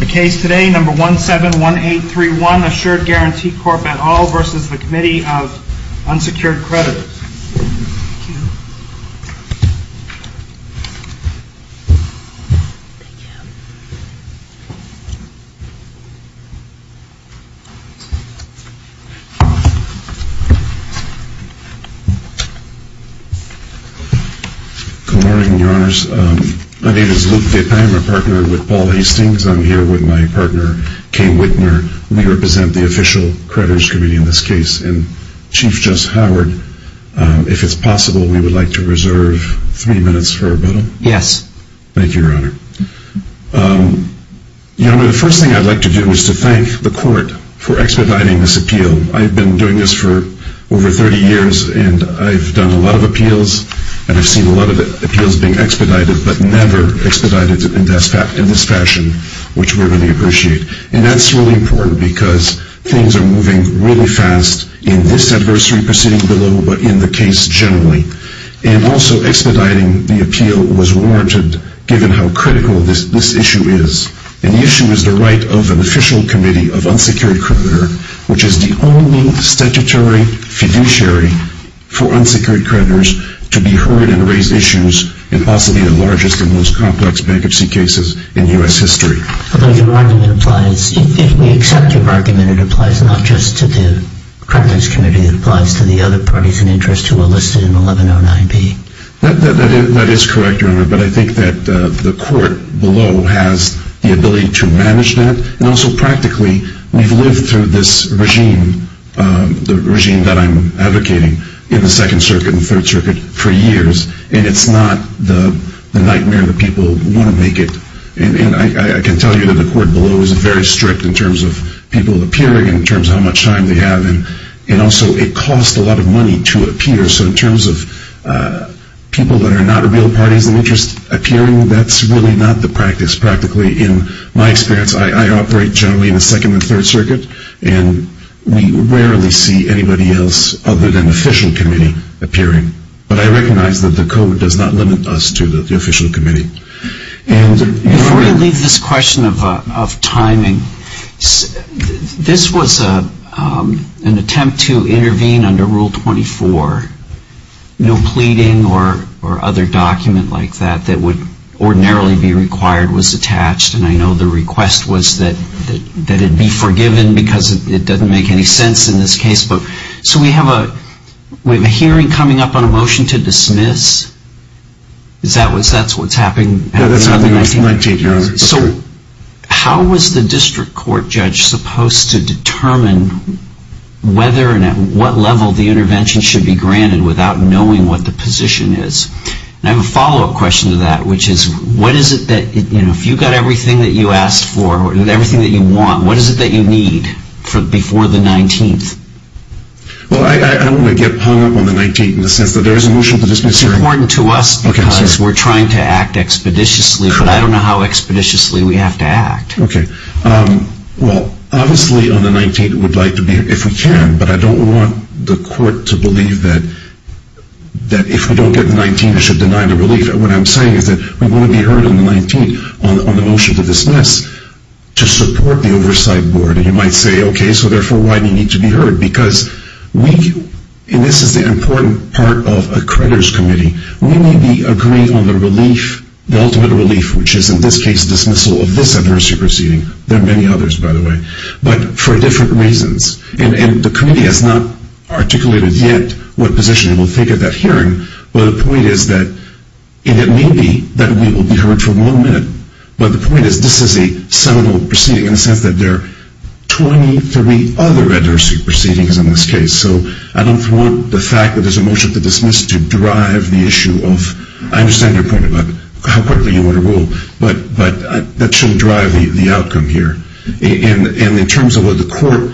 The case today, number 171831, Assured Guaranty Corp. et al. v. Committee of Unsecured Creditors. Good morning, Your Honors. My name is Luke Vip. I am a partner with Paul Hastings. I'm here with my partner, Kay Wittner. We represent the Official Creditors Committee in this case. Chief Jess Howard, if it's possible, we would like to reserve three minutes for a rebuttal. Yes. Thank you, Your Honor. The first thing I'd like to do is to thank the Court for expediting this appeal. I've been doing this for over 30 years, and I've done a lot of appeals, and I've seen a lot of appeals being expedited, but never expedited in this fashion, which we really appreciate. And that's really important because things are moving really fast in this adversary proceeding below, but in the case generally. And also, expediting the appeal was warranted, given how critical this issue is. And the issue is the right of an Official Committee of Unsecured Creditor, which is the only statutory fiduciary for unsecured creditors to be heard and raise issues in possibly the largest and most complex bankruptcy cases in U.S. history. But your argument applies. If we accept your argument, it applies not just to the Creditors Committee, it applies to the other parties in interest who are listed in 1109B. That is correct, Your Honor. But I think that the Court below has the ability to manage that. And also, practically, we've lived through this regime, the regime that I'm advocating, in the Second Circuit and Third Circuit for years, and it's not the nightmare that people want to make it. And I can tell you that the Court below is very strict in terms of people appearing and in terms of how much time they have. And also, it costs a lot of money to appear. So in terms of people that are not real parties in interest appearing, that's really not the practice, practically. In my experience, I operate generally in the Second and Third Circuit, and we rarely see anybody else other than the Official Committee appearing. But I recognize that the Code does not limit us to the Official Committee. Before you leave this question of timing, this was an attempt to intervene under Rule 24. No pleading or other document like that that would ordinarily be required was attached. And I know the request was that it be forgiven because it doesn't make any sense in this case. But so we have a hearing coming up on a motion to dismiss. Is that what's happening at the end of the 19th? So how was the District Court judge supposed to determine whether and at what level the intervention should be granted without knowing what the position is? And I have a follow-up question to that, which is, what is it that, you know, if you've got everything that you Well, I don't want to get hung up on the 19th in the sense that there is a motion to dismiss. It's important to us because we're trying to act expeditiously, but I don't know how expeditiously we have to act. Okay. Well, obviously on the 19th, we'd like to be, if we can, but I don't want the Court to believe that if we don't get the 19th, we should deny the relief. What I'm saying is that we want to be heard on the 19th on the motion to dismiss to support the Oversight Board. And you might say, okay, so therefore why do you need to be heard? Because we do, and this is the important part of a creditors' committee, we need to agree on the relief, the ultimate relief, which is in this case dismissal of this adversary proceeding. There are many others, by the way, but for different reasons. And the committee has not articulated yet what position it will take at that hearing, but the point is that, and it may be that we will be heard for one minute, but the point is this is a seminal proceeding in the sense that there are 23 other adversary proceedings in this case. So I don't want the fact that there's a motion to dismiss to drive the issue of, I understand your point about how quickly you want to rule, but that shouldn't drive the outcome here. And in terms of what the Court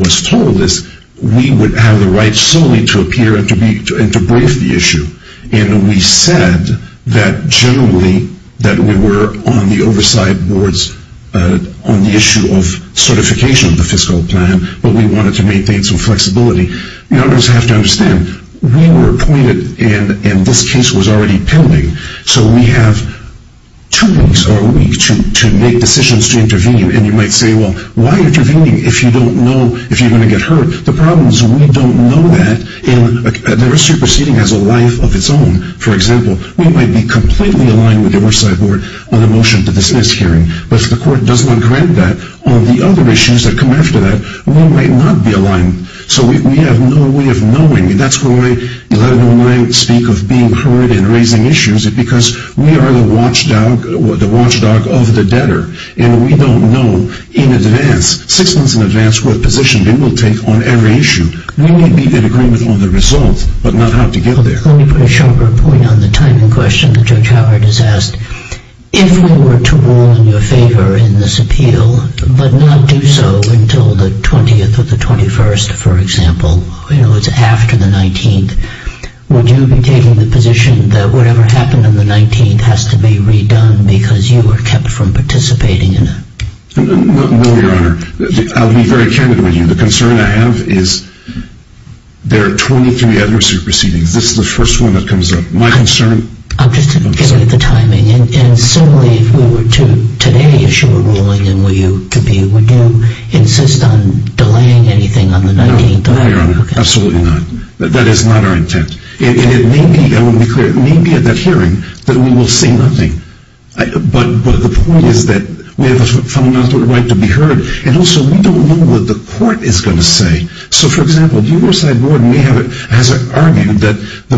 was told is we would have the right solely to appear and to brief the issue. And we said that generally that we were on the oversight boards on the issue of certification of the fiscal plan, but we wanted to maintain some flexibility. You always have to understand, we were appointed and this case was already pending, so we have two weeks, or a week, to make decisions to intervene. And you might say, well, why are you intervening if you don't know if you're going to get heard? The problem is we don't know that, and the superseding has a life of its own. For example, we might be completely aligned with the oversight board on a motion to dismiss hearing, but if the Court does not grant that, all the other issues that come after that might not be aligned. So we have no way of knowing, and that's why I speak of being heard and raising issues, because we are the watchdog of the debtor, and we don't know in advance, six months in advance, what position they will take on every issue. We may be in agreement on the results, but not how to get there. Let me put a sharper point on the timing question that Judge Howard has asked. If we were to rule in your favor in this appeal, but not do so until the 20th or the 21st, for example, you know, it's after the 19th, would you be taking the position that whatever happened on the 19th has to be redone because you were kept from participating in it? No, Your Honor. I'll be very candid with you. The concern I have is there are 23 other supersedings. This is the first one that comes up. My concern... I'm just interested in the timing. And similarly, if we were to today issue a ruling in your favor, would you insist on delaying anything on the 19th? No, Your Honor. Absolutely not. That is not our intent. And it may be, I want to be clear, it may be at that hearing that we will say nothing. But the point is that we have a fundamental right to be heard. And also, we don't know what the court is going to say. So, for example, the Riverside Board may have argued that this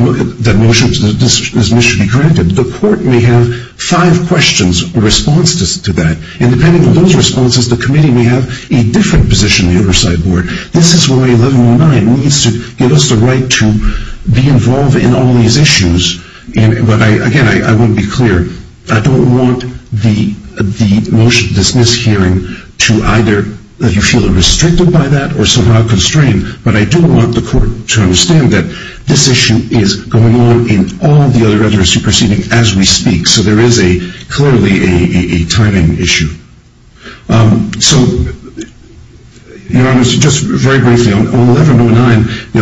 motion should be granted. The court may have five questions in response to that. And depending on those responses, the committee may have a different position than the Riverside Board. This is why 1109 needs to give us the right to be involved in all these issues. But, again, I want to be clear. I don't want the motion, this mishearing, to either that you feel restricted by that or somehow constrained. But I do want the court to understand that this issue is going on in all the other supersedings as we speak. So there is clearly a timing issue. So, Your Honor, just very briefly, on 1109,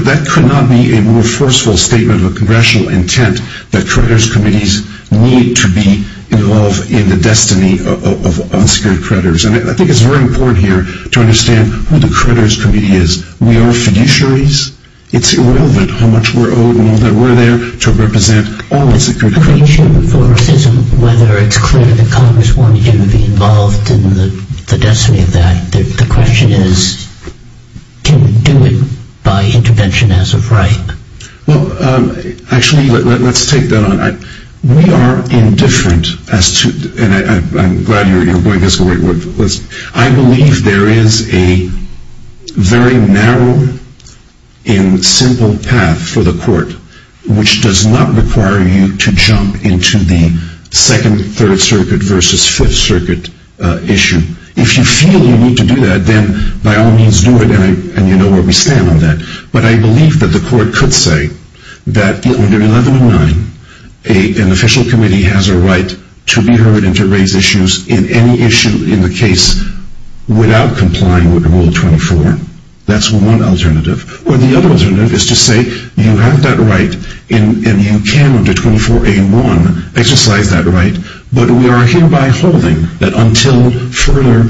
that could not be a more forceful statement of a congressional intent that creditors' committees need to be involved in the destiny of unsecured creditors. And I think it's very important here to understand who the creditors' committee is. We are fiduciaries. It's irrelevant how much we're owed and all that we're there to represent all unsecured creditors. I'm not preaching for racism, whether it's clear that Congress wanted you to be involved in the destiny of that. The question is, can we do it by intervention as of right? Well, actually, let's take that on. We are indifferent as to, and I'm glad you're going this way. I believe there is a very narrow and simple path for the court, which does not require you to jump into the 2nd, 3rd Circuit versus 5th Circuit issue. If you feel you need to do that, then by all means do it, and you know where we stand on that. But I believe that the court could say that under 1109, an official committee has a right to be heard and to raise issues in any issue in the case without complying with Rule 24. That's one alternative. Or the other alternative is to say you have that right, and you can under 24A1 exercise that right, but we are hereby holding that until further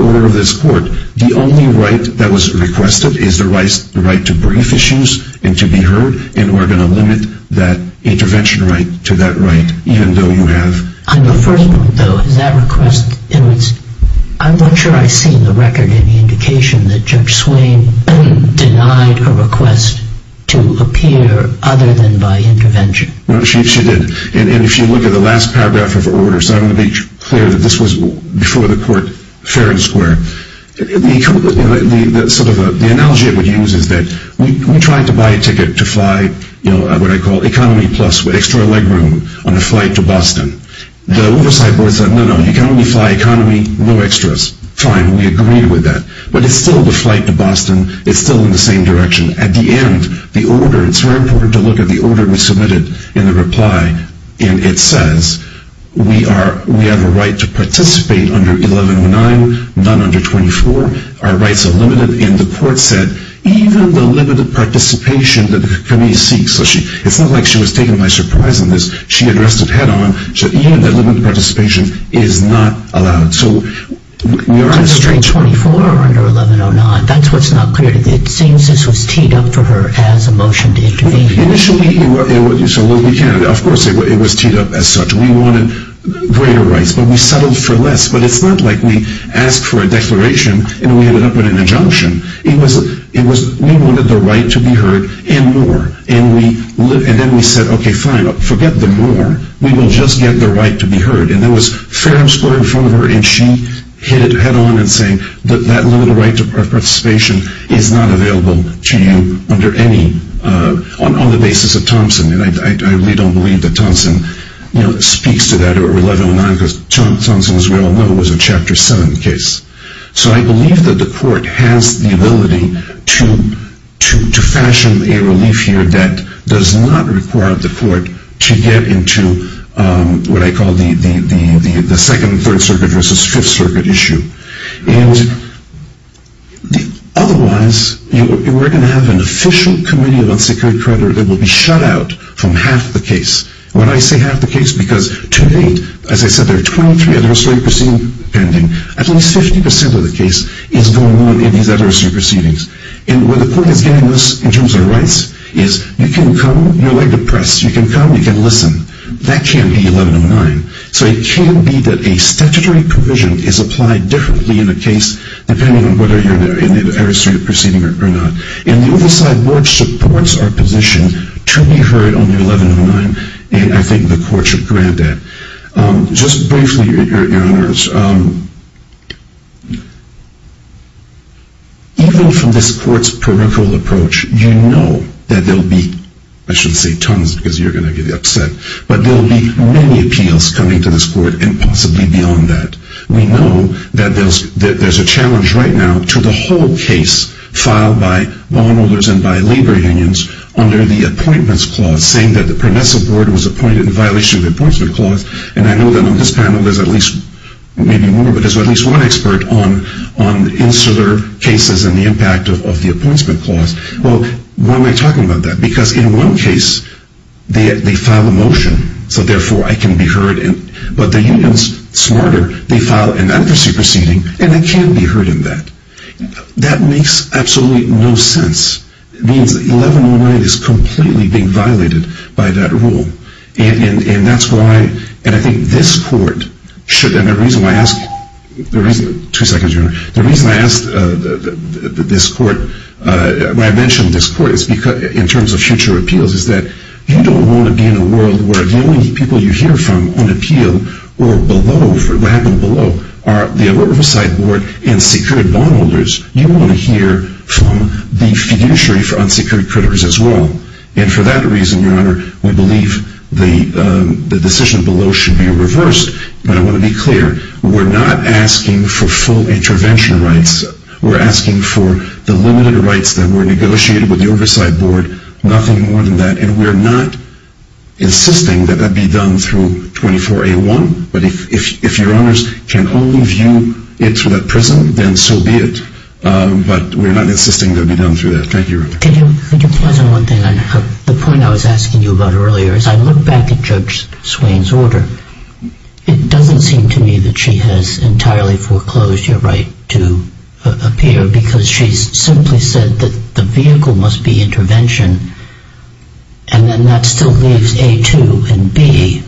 order of this court, the only right that was requested is the right to brief issues and to be heard, and we're going to limit that intervention right to that right, even though you have On the first point, though, is that request, I'm not sure I've seen the record any indication that Judge Swain denied a request to appear other than by intervention. No, she did. And if you look at the last paragraph of her order, so I want to be clear that this was before the court fair and square, the analogy I would use is that we tried to buy a flight ticket to fly what I call Economy Plus with extra leg room on a flight to Boston. The oversight board said, no, no, you can only fly Economy, no extras. Fine, we agreed with that. But it's still the flight to Boston, it's still in the same direction. At the end, the order, it's very important to look at the order we submitted in the reply, and it says, we have a right to participate under 1109, none under 24, our rights are limited, and the court said, even the limited participation that the committee seeks, it's not like she was taken by surprise on this, she addressed it head on, even the limited participation is not allowed. Under 24 or under 1109, that's what's not clear. It seems this was teed up for her as a motion to intervene. Initially, it was teed up as such. We wanted greater rights, but we settled for less. But it's not like we asked for a declaration, and we ended up with an injunction. We wanted the right to be heard and more. And then we said, okay, fine, forget the more, we will just get the right to be heard. And there was phantoms put in front of her, and she hit it head on in saying, that limited right to participation is not available to you under any, on the basis of Thompson. And I really don't believe that Thompson speaks to that under 1109, because Thompson, as we all know, was a Chapter 7 case. So I believe that the court has the ability to fashion a relief here that does not require the court to get into what I call the 2nd and 3rd Circuit versus 5th Circuit issue. Otherwise, we're going to have an official committee of unsecured credit that will be shut out from half the case. When I say half the case, because to date, as I said, there are 23 administrative proceedings pending. At least 50% of the case is going on in these administrative proceedings. And where the court is getting us in terms of rights is, you can come, you're very depressed, you can come, you can listen. That can't be 1109. So it can be that a statutory provision is applied differently in a case, depending on whether you're in an administrative proceeding or not. And the oversight board supports our position to be heard on the 1109. And I think the court should grant that. Just briefly, Your Honors, even from this court's parochial approach, you know that there will be, I shouldn't say tons because you're going to get upset, but there will be many appeals coming to this court and possibly beyond that. We know that there's a challenge right now to the whole case filed by bondholders and by labor unions under the appointments clause, saying that the permissive board was appointed in violation of the appointments clause. And I know that on this panel there's at least, maybe more, but there's at least one expert on the insular cases and the impact of the appointments clause. Well, why am I talking about that? Because in one case, they file a motion, so therefore I can be heard. But the unions, smarter, they file an advocacy proceeding, and I can be heard in that. That makes absolutely no sense. It means that 1109 is completely being violated by that rule. And that's why, and I think this court should, and the reason why I asked, two seconds, Your Honor, the reason I asked this court, when I mentioned this court in terms of future appeals, is that you don't want to be in a world where the only people you hear from on appeal or below, what happened below, are the oversight board and secured bondholders. You want to hear from the fiduciary for unsecured creditors as well. And for that reason, Your Honor, we believe the decision below should be reversed. But I want to be clear. We're not asking for full intervention rights. We're asking for the limited rights that were negotiated with the oversight board, and nothing more than that. And we're not insisting that that be done through 24A1. But if Your Honors can only view it through that prism, then so be it. But we're not insisting it be done through that. Thank you, Your Honor. Could you pause on one thing? The point I was asking you about earlier, as I look back at Judge Swain's order, it doesn't seem to me that she has entirely foreclosed your right to appear because she simply said that the vehicle must be intervention, and then that still leaves A2 and B.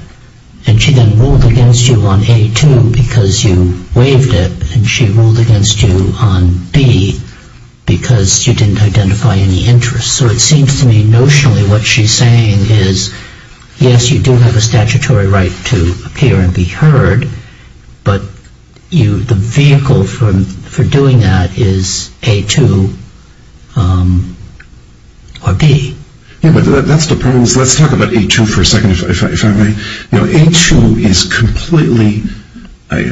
And she then ruled against you on A2 because you waived it, and she ruled against you on B because you didn't identify any interest. So it seems to me notionally what she's saying is, yes, you do have a statutory right to appear and be heard, but the vehicle for doing that is A2 or B. Yeah, but that depends. Let's talk about A2 for a second, if I may. You know, A2 is completely, I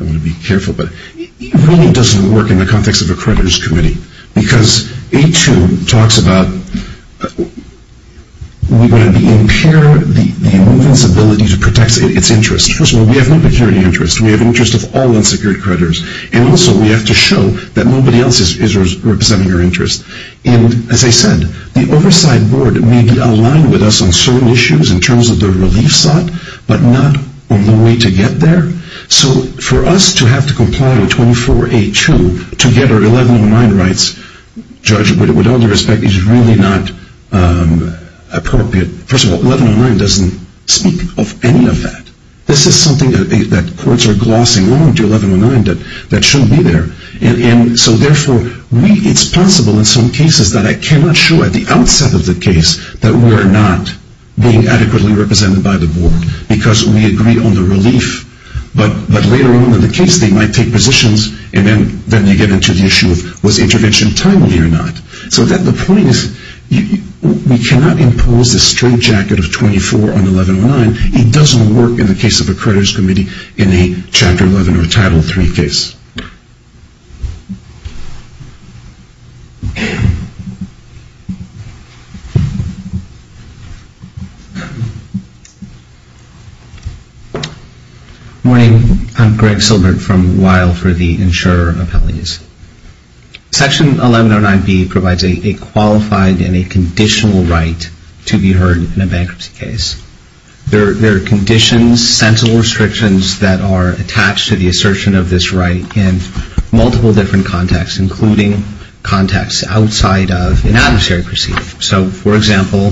want to be careful, but it really doesn't work in the context of a creditors' committee because A2 talks about we want to impair the movement's ability to protect its interest. First of all, we have no security interest. We have interest of all unsecured creditors, and also we have to show that nobody else is representing our interest. And as I said, the oversight board may be aligned with us on certain issues in terms of the relief sought, but not on the way to get there. So for us to have to comply with 24A2 to get our 1109 rights judged, with all due respect, is really not appropriate. First of all, 1109 doesn't speak of any of that. This is something that courts are glossing on to 1109 that shouldn't be there. And so therefore, it's possible in some cases that I cannot show at the outset of the case that we are not being adequately represented by the board because we agree on the relief, but later on in the case they might take positions and then they get into the issue of was the intervention timely or not. So the point is we cannot impose a straight jacket of 24 on 1109. It doesn't work in the case of a creditors' committee in a Chapter 11 or Title III case. Good morning. I'm Greg Silbert from Weill for the insurer appellees. Section 1109B provides a qualified and a conditional right to be heard in a bankruptcy case. There are conditions, sensible restrictions that are attached to the assertion of this right in multiple different contexts, including contexts outside of an adversary proceeding. So, for example,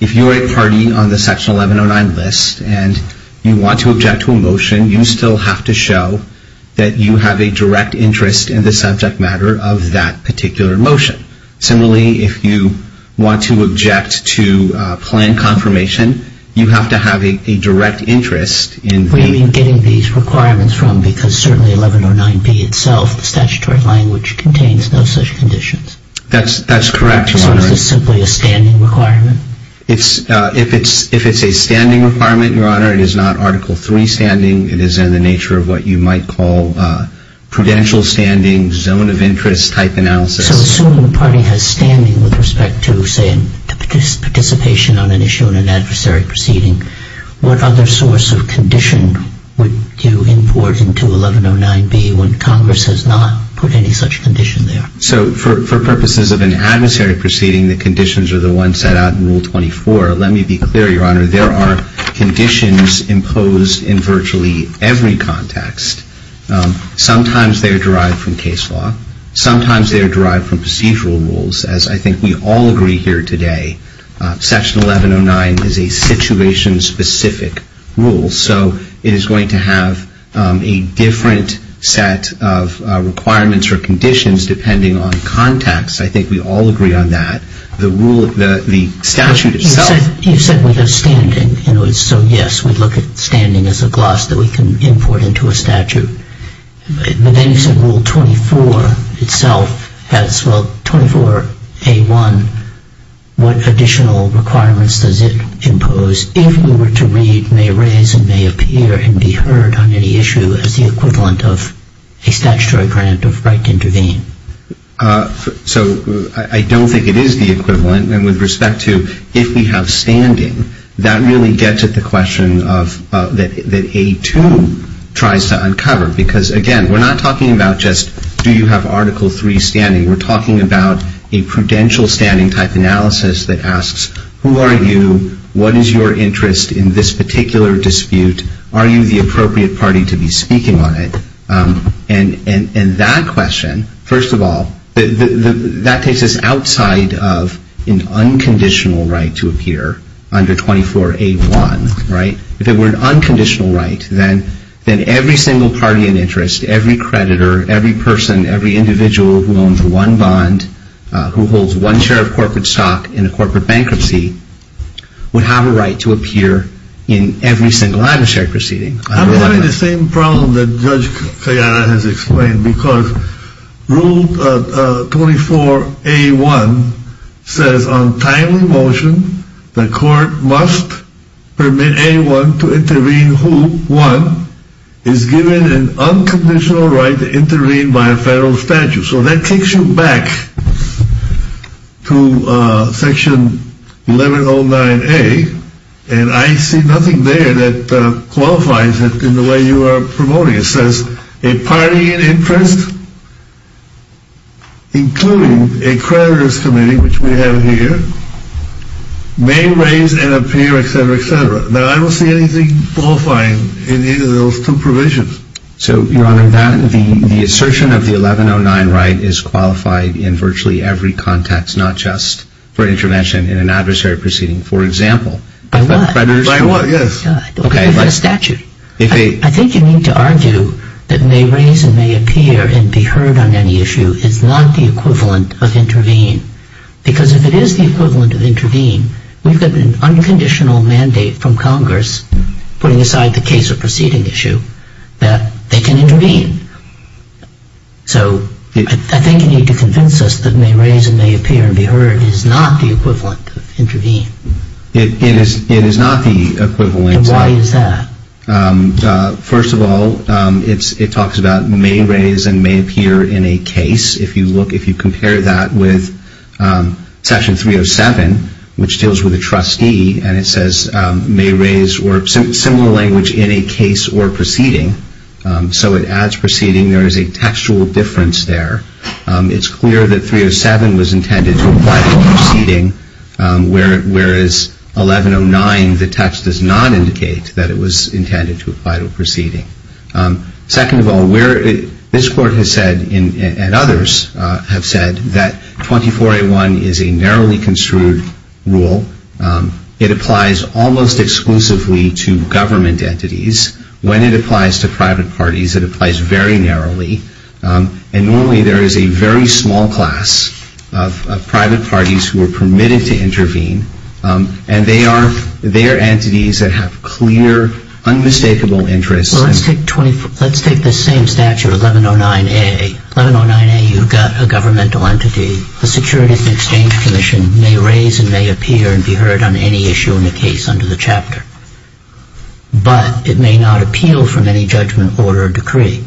if you are a party on the Section 1109 list and you want to object to a motion, you still have to show that you have a direct interest in the subject matter of that particular motion. Similarly, if you want to object to a plan confirmation, you have to have a direct interest in the What do you mean getting these requirements from? Because certainly 1109B itself, the statutory language, contains no such conditions. That's correct, Your Honor. So is this simply a standing requirement? If it's a standing requirement, Your Honor, it is not Article III standing. It is in the nature of what you might call prudential standing, zone of interest type analysis. So assuming the party has standing with respect to, say, participation on an issue in an adversary proceeding, what other source of condition would you import into 1109B when Congress has not put any such condition there? So for purposes of an adversary proceeding, the conditions are the ones set out in Rule 24. Let me be clear, Your Honor. There are conditions imposed in virtually every context. Sometimes they are derived from case law. Sometimes they are derived from procedural rules, as I think we all agree here today. Section 1109 is a situation-specific rule. So it is going to have a different set of requirements or conditions depending on context. I think we all agree on that. The statute itself You said we have standing. So, yes, we look at standing as a gloss that we can import into a statute. But then you said Rule 24 itself has, well, 24A1, what additional requirements does it impose if we were to read, may raise, and may appear and be heard on any issue as the equivalent of a statutory grant of right to intervene? So I don't think it is the equivalent. And with respect to if we have standing, that really gets at the question that A2 tries to uncover. Because, again, we're not talking about just do you have Article 3 standing. We're talking about a prudential standing-type analysis that asks who are you, what is your interest in this particular dispute, are you the appropriate party to be speaking on it. And that question, first of all, that takes us outside of an unconditional right to appear under 24A1. If it were an unconditional right, then every single party in interest, every creditor, every person, every individual who owns one bond, who holds one share of corporate stock in a corporate bankruptcy, would have a right to appear in every single adversary proceeding. I'm having the same problem that Judge Kayara has explained, because Rule 24A1 says on timely motion, the court must permit anyone to intervene who, one, is given an unconditional right to intervene by a federal statute. So that takes you back to Section 1109A, and I see nothing there that qualifies it in the way you are promoting it. It says a party in interest, including a creditor's committee, which we have here, may raise and appear, etc., etc. Now, I don't see anything qualifying in either of those two provisions. So, Your Honor, the assertion of the 1109 right is qualified in virtually every context, not just for intervention in an adversary proceeding. For example, a creditor's committee. By what? By a statute. I think you need to argue that may raise and may appear and be heard on any issue is not the equivalent of intervene. Because if it is the equivalent of intervene, we've got an unconditional mandate from Congress, putting aside the case or proceeding issue, that they can intervene. So I think you need to convince us that may raise and may appear and be heard is not the equivalent of intervene. It is not the equivalent. And why is that? First of all, it talks about may raise and may appear in a case. If you look, if you compare that with Section 307, which deals with a trustee, and it says may raise or similar language in a case or proceeding. So it adds proceeding. There is a textual difference there. It's clear that 307 was intended to apply to a proceeding, whereas 1109, the text does not indicate that it was intended to apply to a proceeding. Second of all, this Court has said and others have said that 24A1 is a narrowly construed rule. It applies almost exclusively to government entities. When it applies to private parties, it applies very narrowly. And normally there is a very small class of private parties who are permitted to intervene. And they are entities that have clear, unmistakable interests. Well, let's take the same statute of 1109A. 1109A, you've got a governmental entity. The Security and Exchange Commission may raise and may appear and be heard on any issue in the case under the chapter. But it may not appeal from any judgment order or decree.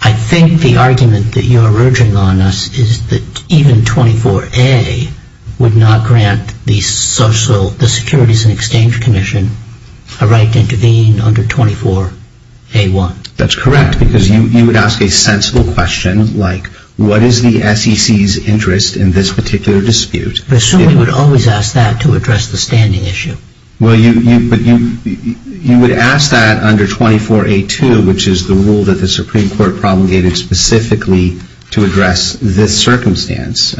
I think the argument that you are urging on us is that even 24A would not grant the Securities and Exchange Commission a right to intervene under 24A1. That's correct, because you would ask a sensible question like, what is the SEC's interest in this particular dispute? I assume we would always ask that to address the standing issue. Well, you would ask that under 24A2, which is the rule that the Supreme Court promulgated specifically to address this circumstance.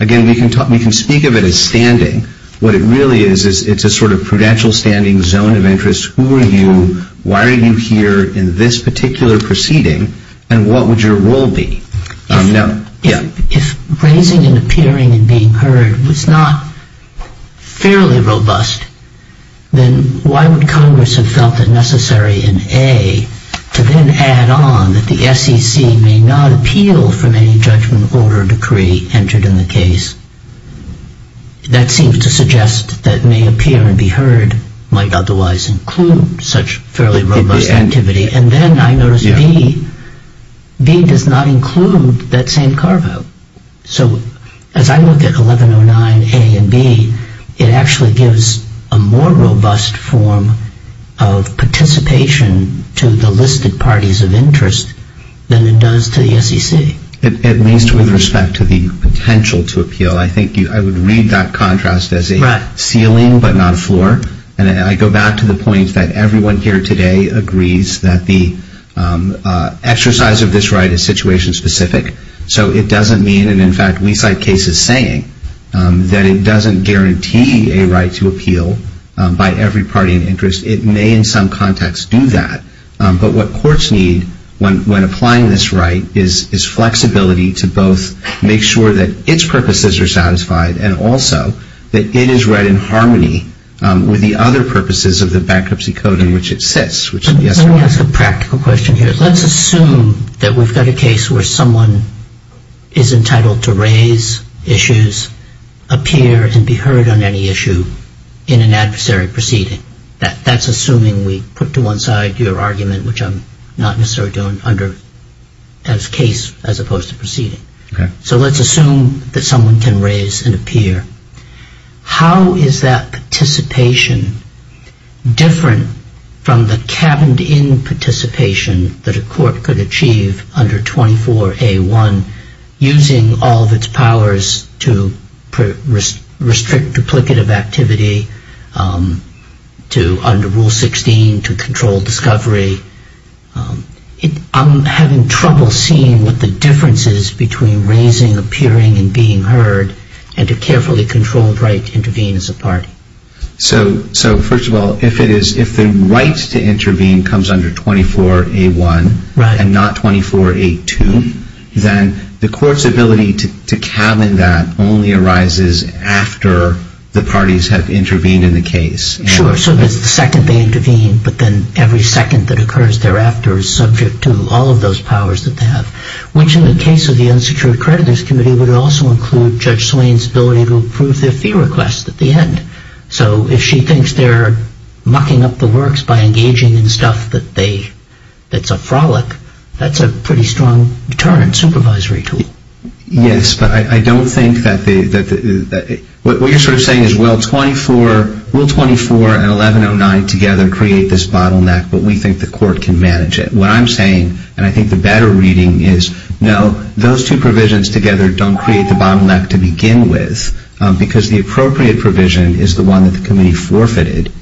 Again, we can speak of it as standing. What it really is, it's a sort of prudential standing zone of interest. Who are you? Why are you here in this particular proceeding? And what would your role be? If raising and appearing and being heard was not fairly robust, then why would Congress have felt it necessary in A to then add on that the SEC may not appeal from any judgment order or decree entered in the case? That seems to suggest that may appear and be heard might otherwise include such fairly robust activity. And then I notice B does not include that same carve-out. So as I look at 1109A and B, it actually gives a more robust form of participation to the listed parties of interest than it does to the SEC. At least with respect to the potential to appeal, I think I would read that contrast as a ceiling but not a floor. And I go back to the point that everyone here today agrees that the exercise of this right is situation-specific. So it doesn't mean, and in fact we cite cases saying, that it doesn't guarantee a right to appeal by every party in interest. It may in some context do that. But what courts need when applying this right is flexibility to both make sure that its purposes are satisfied and also that it is read in harmony with the other purposes of the bankruptcy code in which it sits. Let me ask a practical question here. Let's assume that we've got a case where someone is entitled to raise issues, appear and be heard on any issue in an adversary proceeding. That's assuming we put to one side your argument, which I'm not necessarily doing under as case as opposed to proceeding. So let's assume that someone can raise and appear. How is that participation different from the cabined-in participation that a court could achieve under 24A1, using all of its powers to restrict duplicative activity, to under Rule 16, to control discovery? I'm having trouble seeing what the difference is between raising, appearing and being heard, and a carefully controlled right to intervene as a party. So first of all, if the right to intervene comes under 24A1 and not 24A2, then the court's ability to cabin that only arises after the parties have intervened in the case. Sure, so it's the second they intervene, but then every second that occurs thereafter is subject to all of those powers that they have, which in the case of the Unsecured Creditors Committee would also include Judge Swain's ability to approve their fee request at the end. So if she thinks they're mucking up the works by engaging in stuff that's a frolic, that's a pretty strong deterrent supervisory tool. Yes, but I don't think that the – what you're sort of saying is Rule 24 and 1109 together create this bottleneck, but we think the court can manage it. What I'm saying, and I think the better reading is, no, those two provisions together don't create the bottleneck to begin with, because the appropriate provision is the one that the committee forfeited,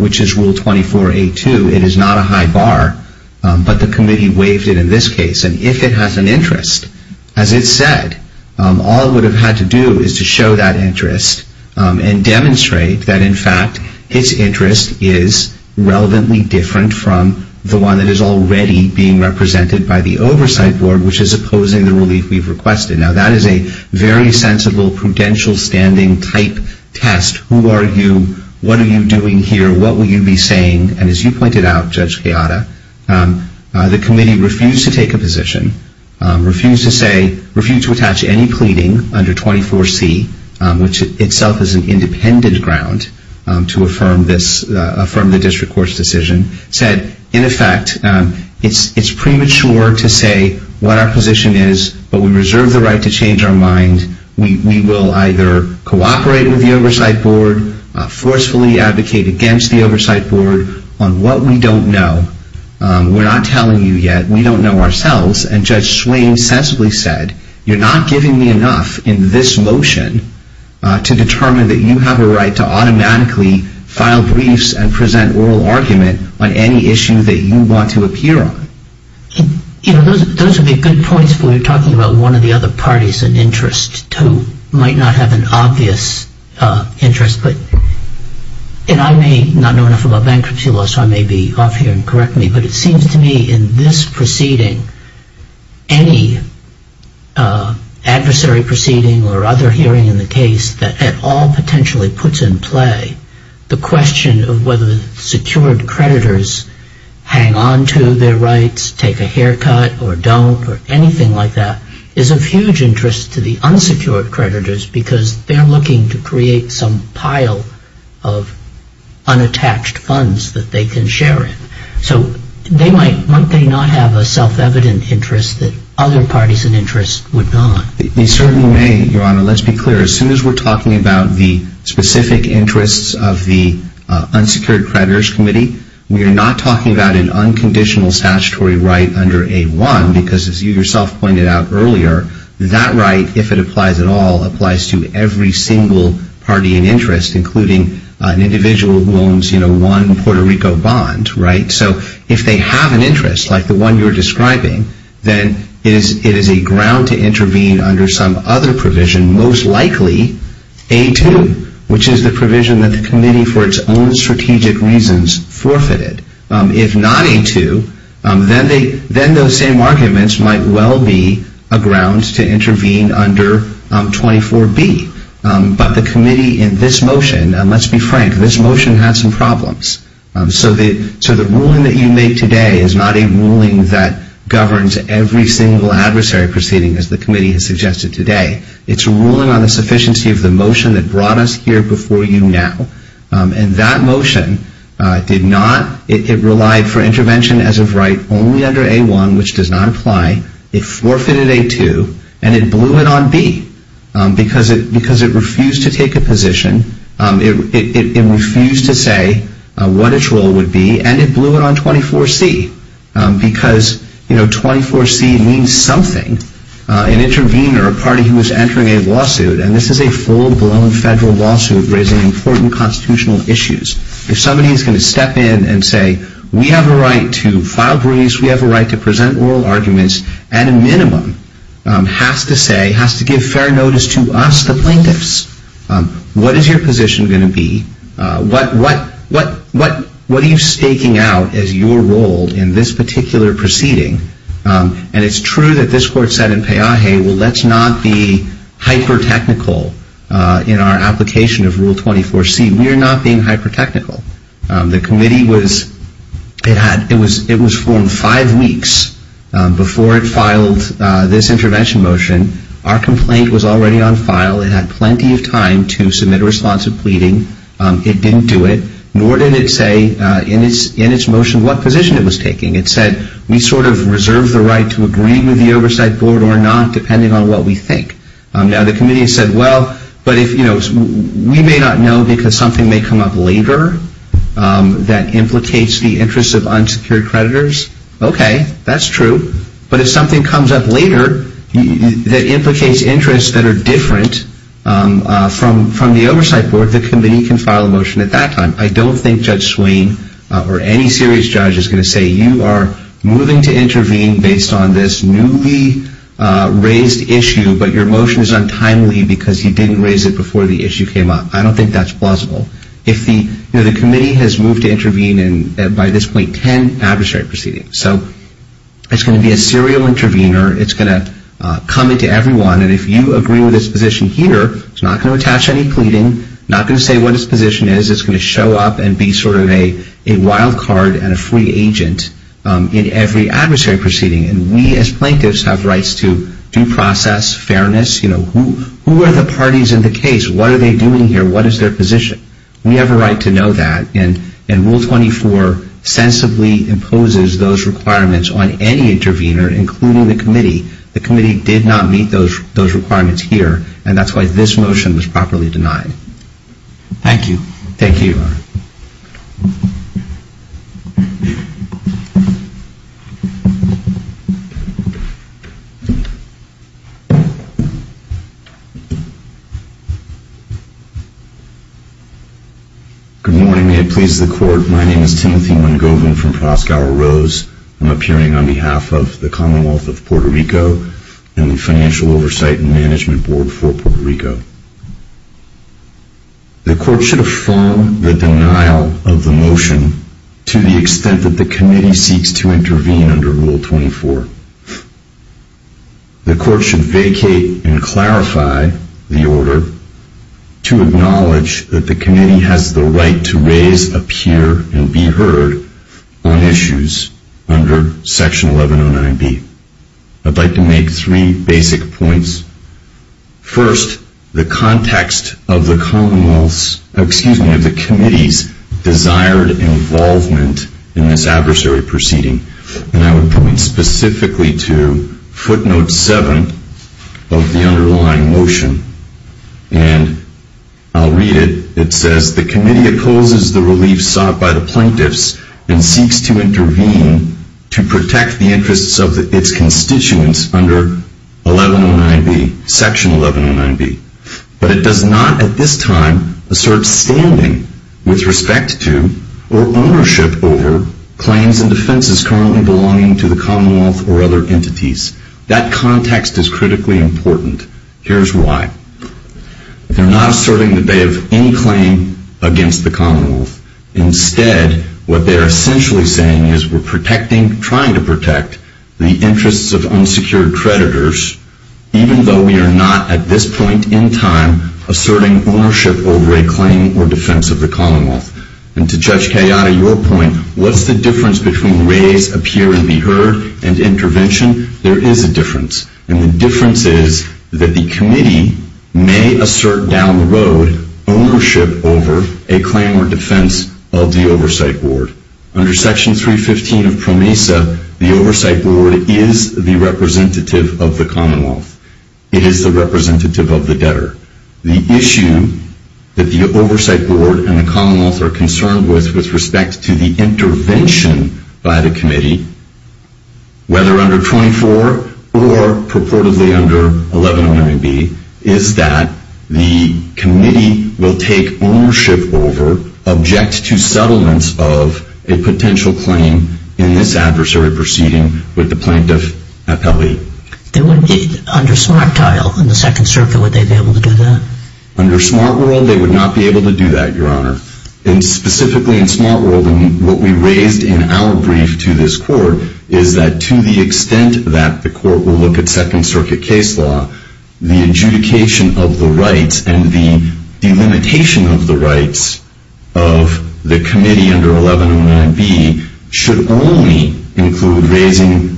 which is Rule 24A2. It is not a high bar, but the committee waived it in this case. And if it has an interest, as it said, all it would have had to do is to show that interest and demonstrate that, in fact, its interest is relevantly different from the one that is already being represented by the Oversight Board, which is opposing the relief we've requested. Now, that is a very sensible prudential standing type test. Who are you? What are you doing here? What will you be saying? And as you pointed out, Judge Kayada, the committee refused to take a position, refused to say – refused to attach any pleading under 24C, which itself is an independent ground to affirm this – affirm the district court's decision, said, in effect, it's premature to say what our position is, but we reserve the right to change our mind. We will either cooperate with the Oversight Board, forcefully advocate against the Oversight Board on what we don't know. We're not telling you yet. We don't know ourselves, and Judge Swain sensibly said, you're not giving me enough in this motion to determine that you have a right to automatically file briefs and present oral argument on any issue that you want to appear on. You know, those would be good points if we were talking about one of the other parties in interest who might not have an obvious interest, but – and I may not know enough about bankruptcy law, so I may be off here and correct me, but it seems to me in this proceeding, any adversary proceeding or other hearing in the case that at all potentially puts in play the question of whether secured creditors hang on to their rights, take a haircut or don't, or anything like that, is of huge interest to the unsecured creditors because they're looking to create some pile of unattached funds that they can share in. So they might – might they not have a self-evident interest that other parties in interest would not? They certainly may, Your Honor. Your Honor, let's be clear. As soon as we're talking about the specific interests of the unsecured creditors committee, we are not talking about an unconditional statutory right under A-1 because as you yourself pointed out earlier, that right, if it applies at all, applies to every single party in interest, including an individual who owns, you know, one Puerto Rico bond, right? So if they have an interest like the one you're describing, then it is a ground to intervene under some other provision, most likely A-2, which is the provision that the committee for its own strategic reasons forfeited. If not A-2, then those same arguments might well be a ground to intervene under 24-B. But the committee in this motion, and let's be frank, this motion had some problems. So the ruling that you make today is not a ruling that governs every single adversary proceeding, as the committee has suggested today. It's a ruling on the sufficiency of the motion that brought us here before you now. And that motion did not – it relied for intervention as of right only under A-1, which does not apply. It forfeited A-2, and it blew it on B because it refused to take a position. It refused to say what its role would be, and it blew it on 24-C because, you know, 24-C means something. An intervener, a party who is entering a lawsuit, and this is a full-blown federal lawsuit raising important constitutional issues. If somebody is going to step in and say, we have a right to file briefs, we have a right to present oral arguments, at a minimum has to say, has to give fair notice to us, the plaintiffs. What is your position going to be? What are you staking out as your role in this particular proceeding? And it's true that this Court said in Peaje, well, let's not be hyper-technical in our application of Rule 24-C. We are not being hyper-technical. The Committee was, it was formed five weeks before it filed this intervention motion. Our complaint was already on file. It had plenty of time to submit a response of pleading. It didn't do it, nor did it say in its motion what position it was taking. It said, we sort of reserve the right to agree with the Oversight Board or not, depending on what we think. Now, the Committee said, well, but if, you know, we may not know because something may come up later that implicates the interests of unsecured creditors. Okay, that's true. But if something comes up later that implicates interests that are different from the Oversight Board, the Committee can file a motion at that time. I don't think Judge Swain or any serious judge is going to say, you are moving to intervene based on this newly raised issue, but your motion is untimely because you didn't raise it before the issue came up. I don't think that's plausible. If the, you know, the Committee has moved to intervene in, by this point, ten adversary proceedings. So it's going to be a serial intervener. It's going to come into everyone, and if you agree with its position here, it's not going to attach any pleading, not going to say what its position is. It's going to show up and be sort of a wild card and a free agent in every adversary proceeding. And we, as plaintiffs, have rights to due process, fairness. You know, who are the parties in the case? What are they doing here? What is their position? We have a right to know that. And Rule 24 sensibly imposes those requirements on any intervener, including the Committee. The Committee did not meet those requirements here, and that's why this motion was properly denied. Thank you. Thank you. Good morning. May it please the Court. My name is Timothy Mungovin from Proskauer Rose. I'm appearing on behalf of the Commonwealth of Puerto Rico and the Financial Oversight and Management Board for Puerto Rico. The Court should affirm the denial of the motion to the extent that the Committee seeks to intervene under Rule 24. The Court should vacate and clarify the order to acknowledge that the Committee has the right to raise, appear, and be heard on issues under Section 1109B. I'd like to make three basic points. First, the context of the Committee's desired involvement in this adversary proceeding. And I would point specifically to footnote 7 of the underlying motion. And I'll read it. It says, The Committee opposes the relief sought by the plaintiffs and seeks to intervene to protect the interests of its constituents under Section 1109B. But it does not at this time assert standing with respect to or ownership over claims and defenses currently belonging to the Commonwealth or other entities. That context is critically important. Here's why. They're not asserting that they have any claim against the Commonwealth. Instead, what they're essentially saying is we're protecting, trying to protect, the interests of unsecured creditors, even though we are not at this point in time asserting ownership over a claim or defense of the Commonwealth. And to Judge Kayada, your point, what's the difference between raise, appear, and be heard and intervention? There is a difference. And the difference is that the Committee may assert down the road ownership over a claim or defense of the Oversight Board. Under Section 315 of PROMESA, the Oversight Board is the representative of the Commonwealth. It is the representative of the debtor. The issue that the Oversight Board and the Commonwealth are concerned with with respect to the intervention by the Committee, whether under 24 or purportedly under 1109B, is that the Committee will take ownership over, object to settlements of a potential claim in this adversary proceeding with the plaintiff appellee. Under Smart Tile in the Second Circuit, would they be able to do that? Under Smart World, they would not be able to do that, Your Honor. And specifically in Smart World, what we raised in our brief to this Court is that to the extent that the Court will look at Second Circuit case law, the adjudication of the rights and the delimitation of the rights of the Committee under 1109B should only include raising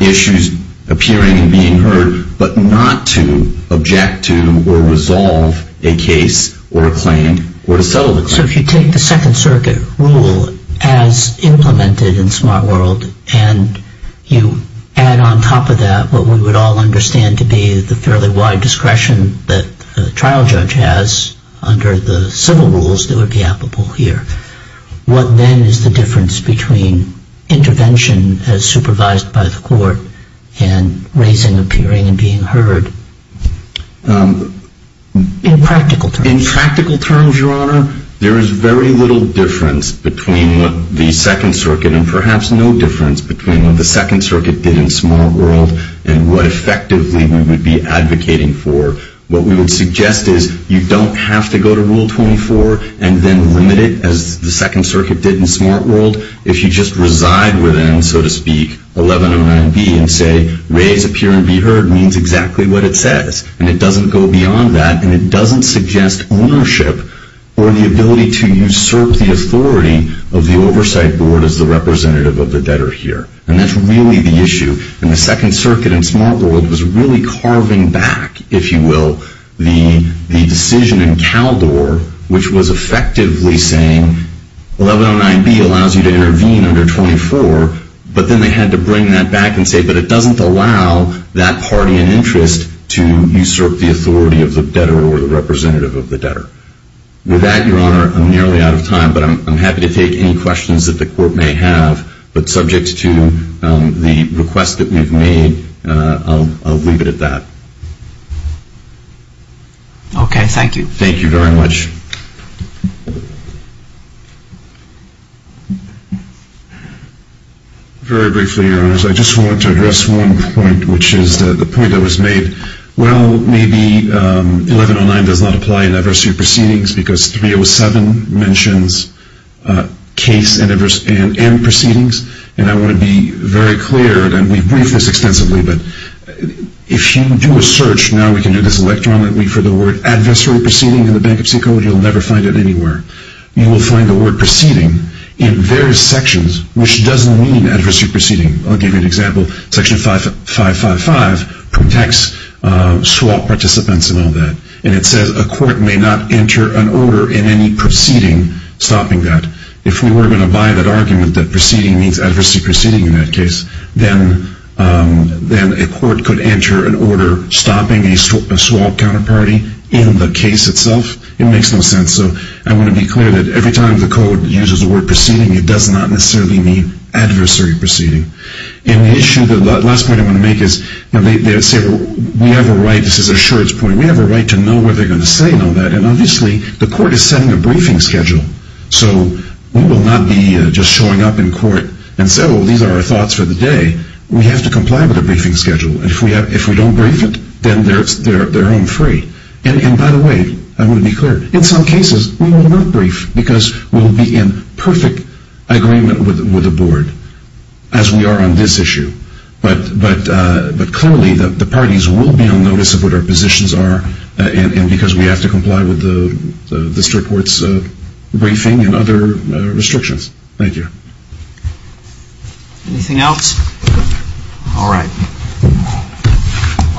issues appearing and being heard, but not to object to or resolve a case or a claim or to settle the claim. So if you take the Second Circuit rule as implemented in Smart World and you add on top of that what we would all understand to be the fairly wide discretion that a trial judge has under the civil rules that are gappable here, what then is the difference between intervention as supervised by the Court and raising appearing and being heard in practical terms? In practical terms, Your Honor, there is very little difference between what the Second Circuit and perhaps no difference between what the Second Circuit did in Smart World and what effectively we would be advocating for. What we would suggest is you don't have to go to Rule 24 and then limit it as the Second Circuit did in Smart World. If you just reside within, so to speak, 1109B and say, raise, appear, and be heard means exactly what it says, and it doesn't go beyond that, and it doesn't suggest ownership or the ability to usurp the authority of the oversight board as the representative of the debtor here. And that's really the issue, and the Second Circuit in Smart World was really carving back, if you will, the decision in Caldor which was effectively saying 1109B allows you to intervene under 24, but then they had to bring that back and say, but it doesn't allow that party in interest to usurp the authority of the debtor or the representative of the debtor. With that, Your Honor, I'm nearly out of time, but I'm happy to take any questions that the Court may have, but subject to the request that we've made, I'll leave it at that. Okay, thank you. Thank you very much. Very briefly, Your Honors, I just want to address one point, which is the point that was made. Well, maybe 1109 does not apply in adversary proceedings because 307 mentions case and proceedings, and I want to be very clear, and we've briefed this extensively, but if you do a search, now we can do this electronically, for the word adversary proceeding in the Bankruptcy Code, you'll never find it anywhere. You will find the word proceeding in various sections, which doesn't mean adversary proceeding. I'll give you an example. Section 555 protects swap participants and all that, and it says a court may not enter an order in any proceeding stopping that. If we were going to buy that argument that proceeding means adversary proceeding in that case, then a court could enter an order stopping a swap counterparty in the case itself. It makes no sense. So I want to be clear that every time the Code uses the word proceeding, it does not necessarily mean adversary proceeding. And the issue, the last point I want to make is we have a right, this is a short point, we have a right to know what they're going to say and all that, and obviously the court is setting a briefing schedule, so we will not be just showing up in court and say, well, these are our thoughts for the day. We have to comply with the briefing schedule, and if we don't brief it, then they're home free. And by the way, I want to be clear, in some cases we will not brief because we'll be in perfect agreement with the board, as we are on this issue. But clearly the parties will be on notice of what our positions are and because we have to comply with the district court's briefing and other restrictions. Anything else? All right. All rise.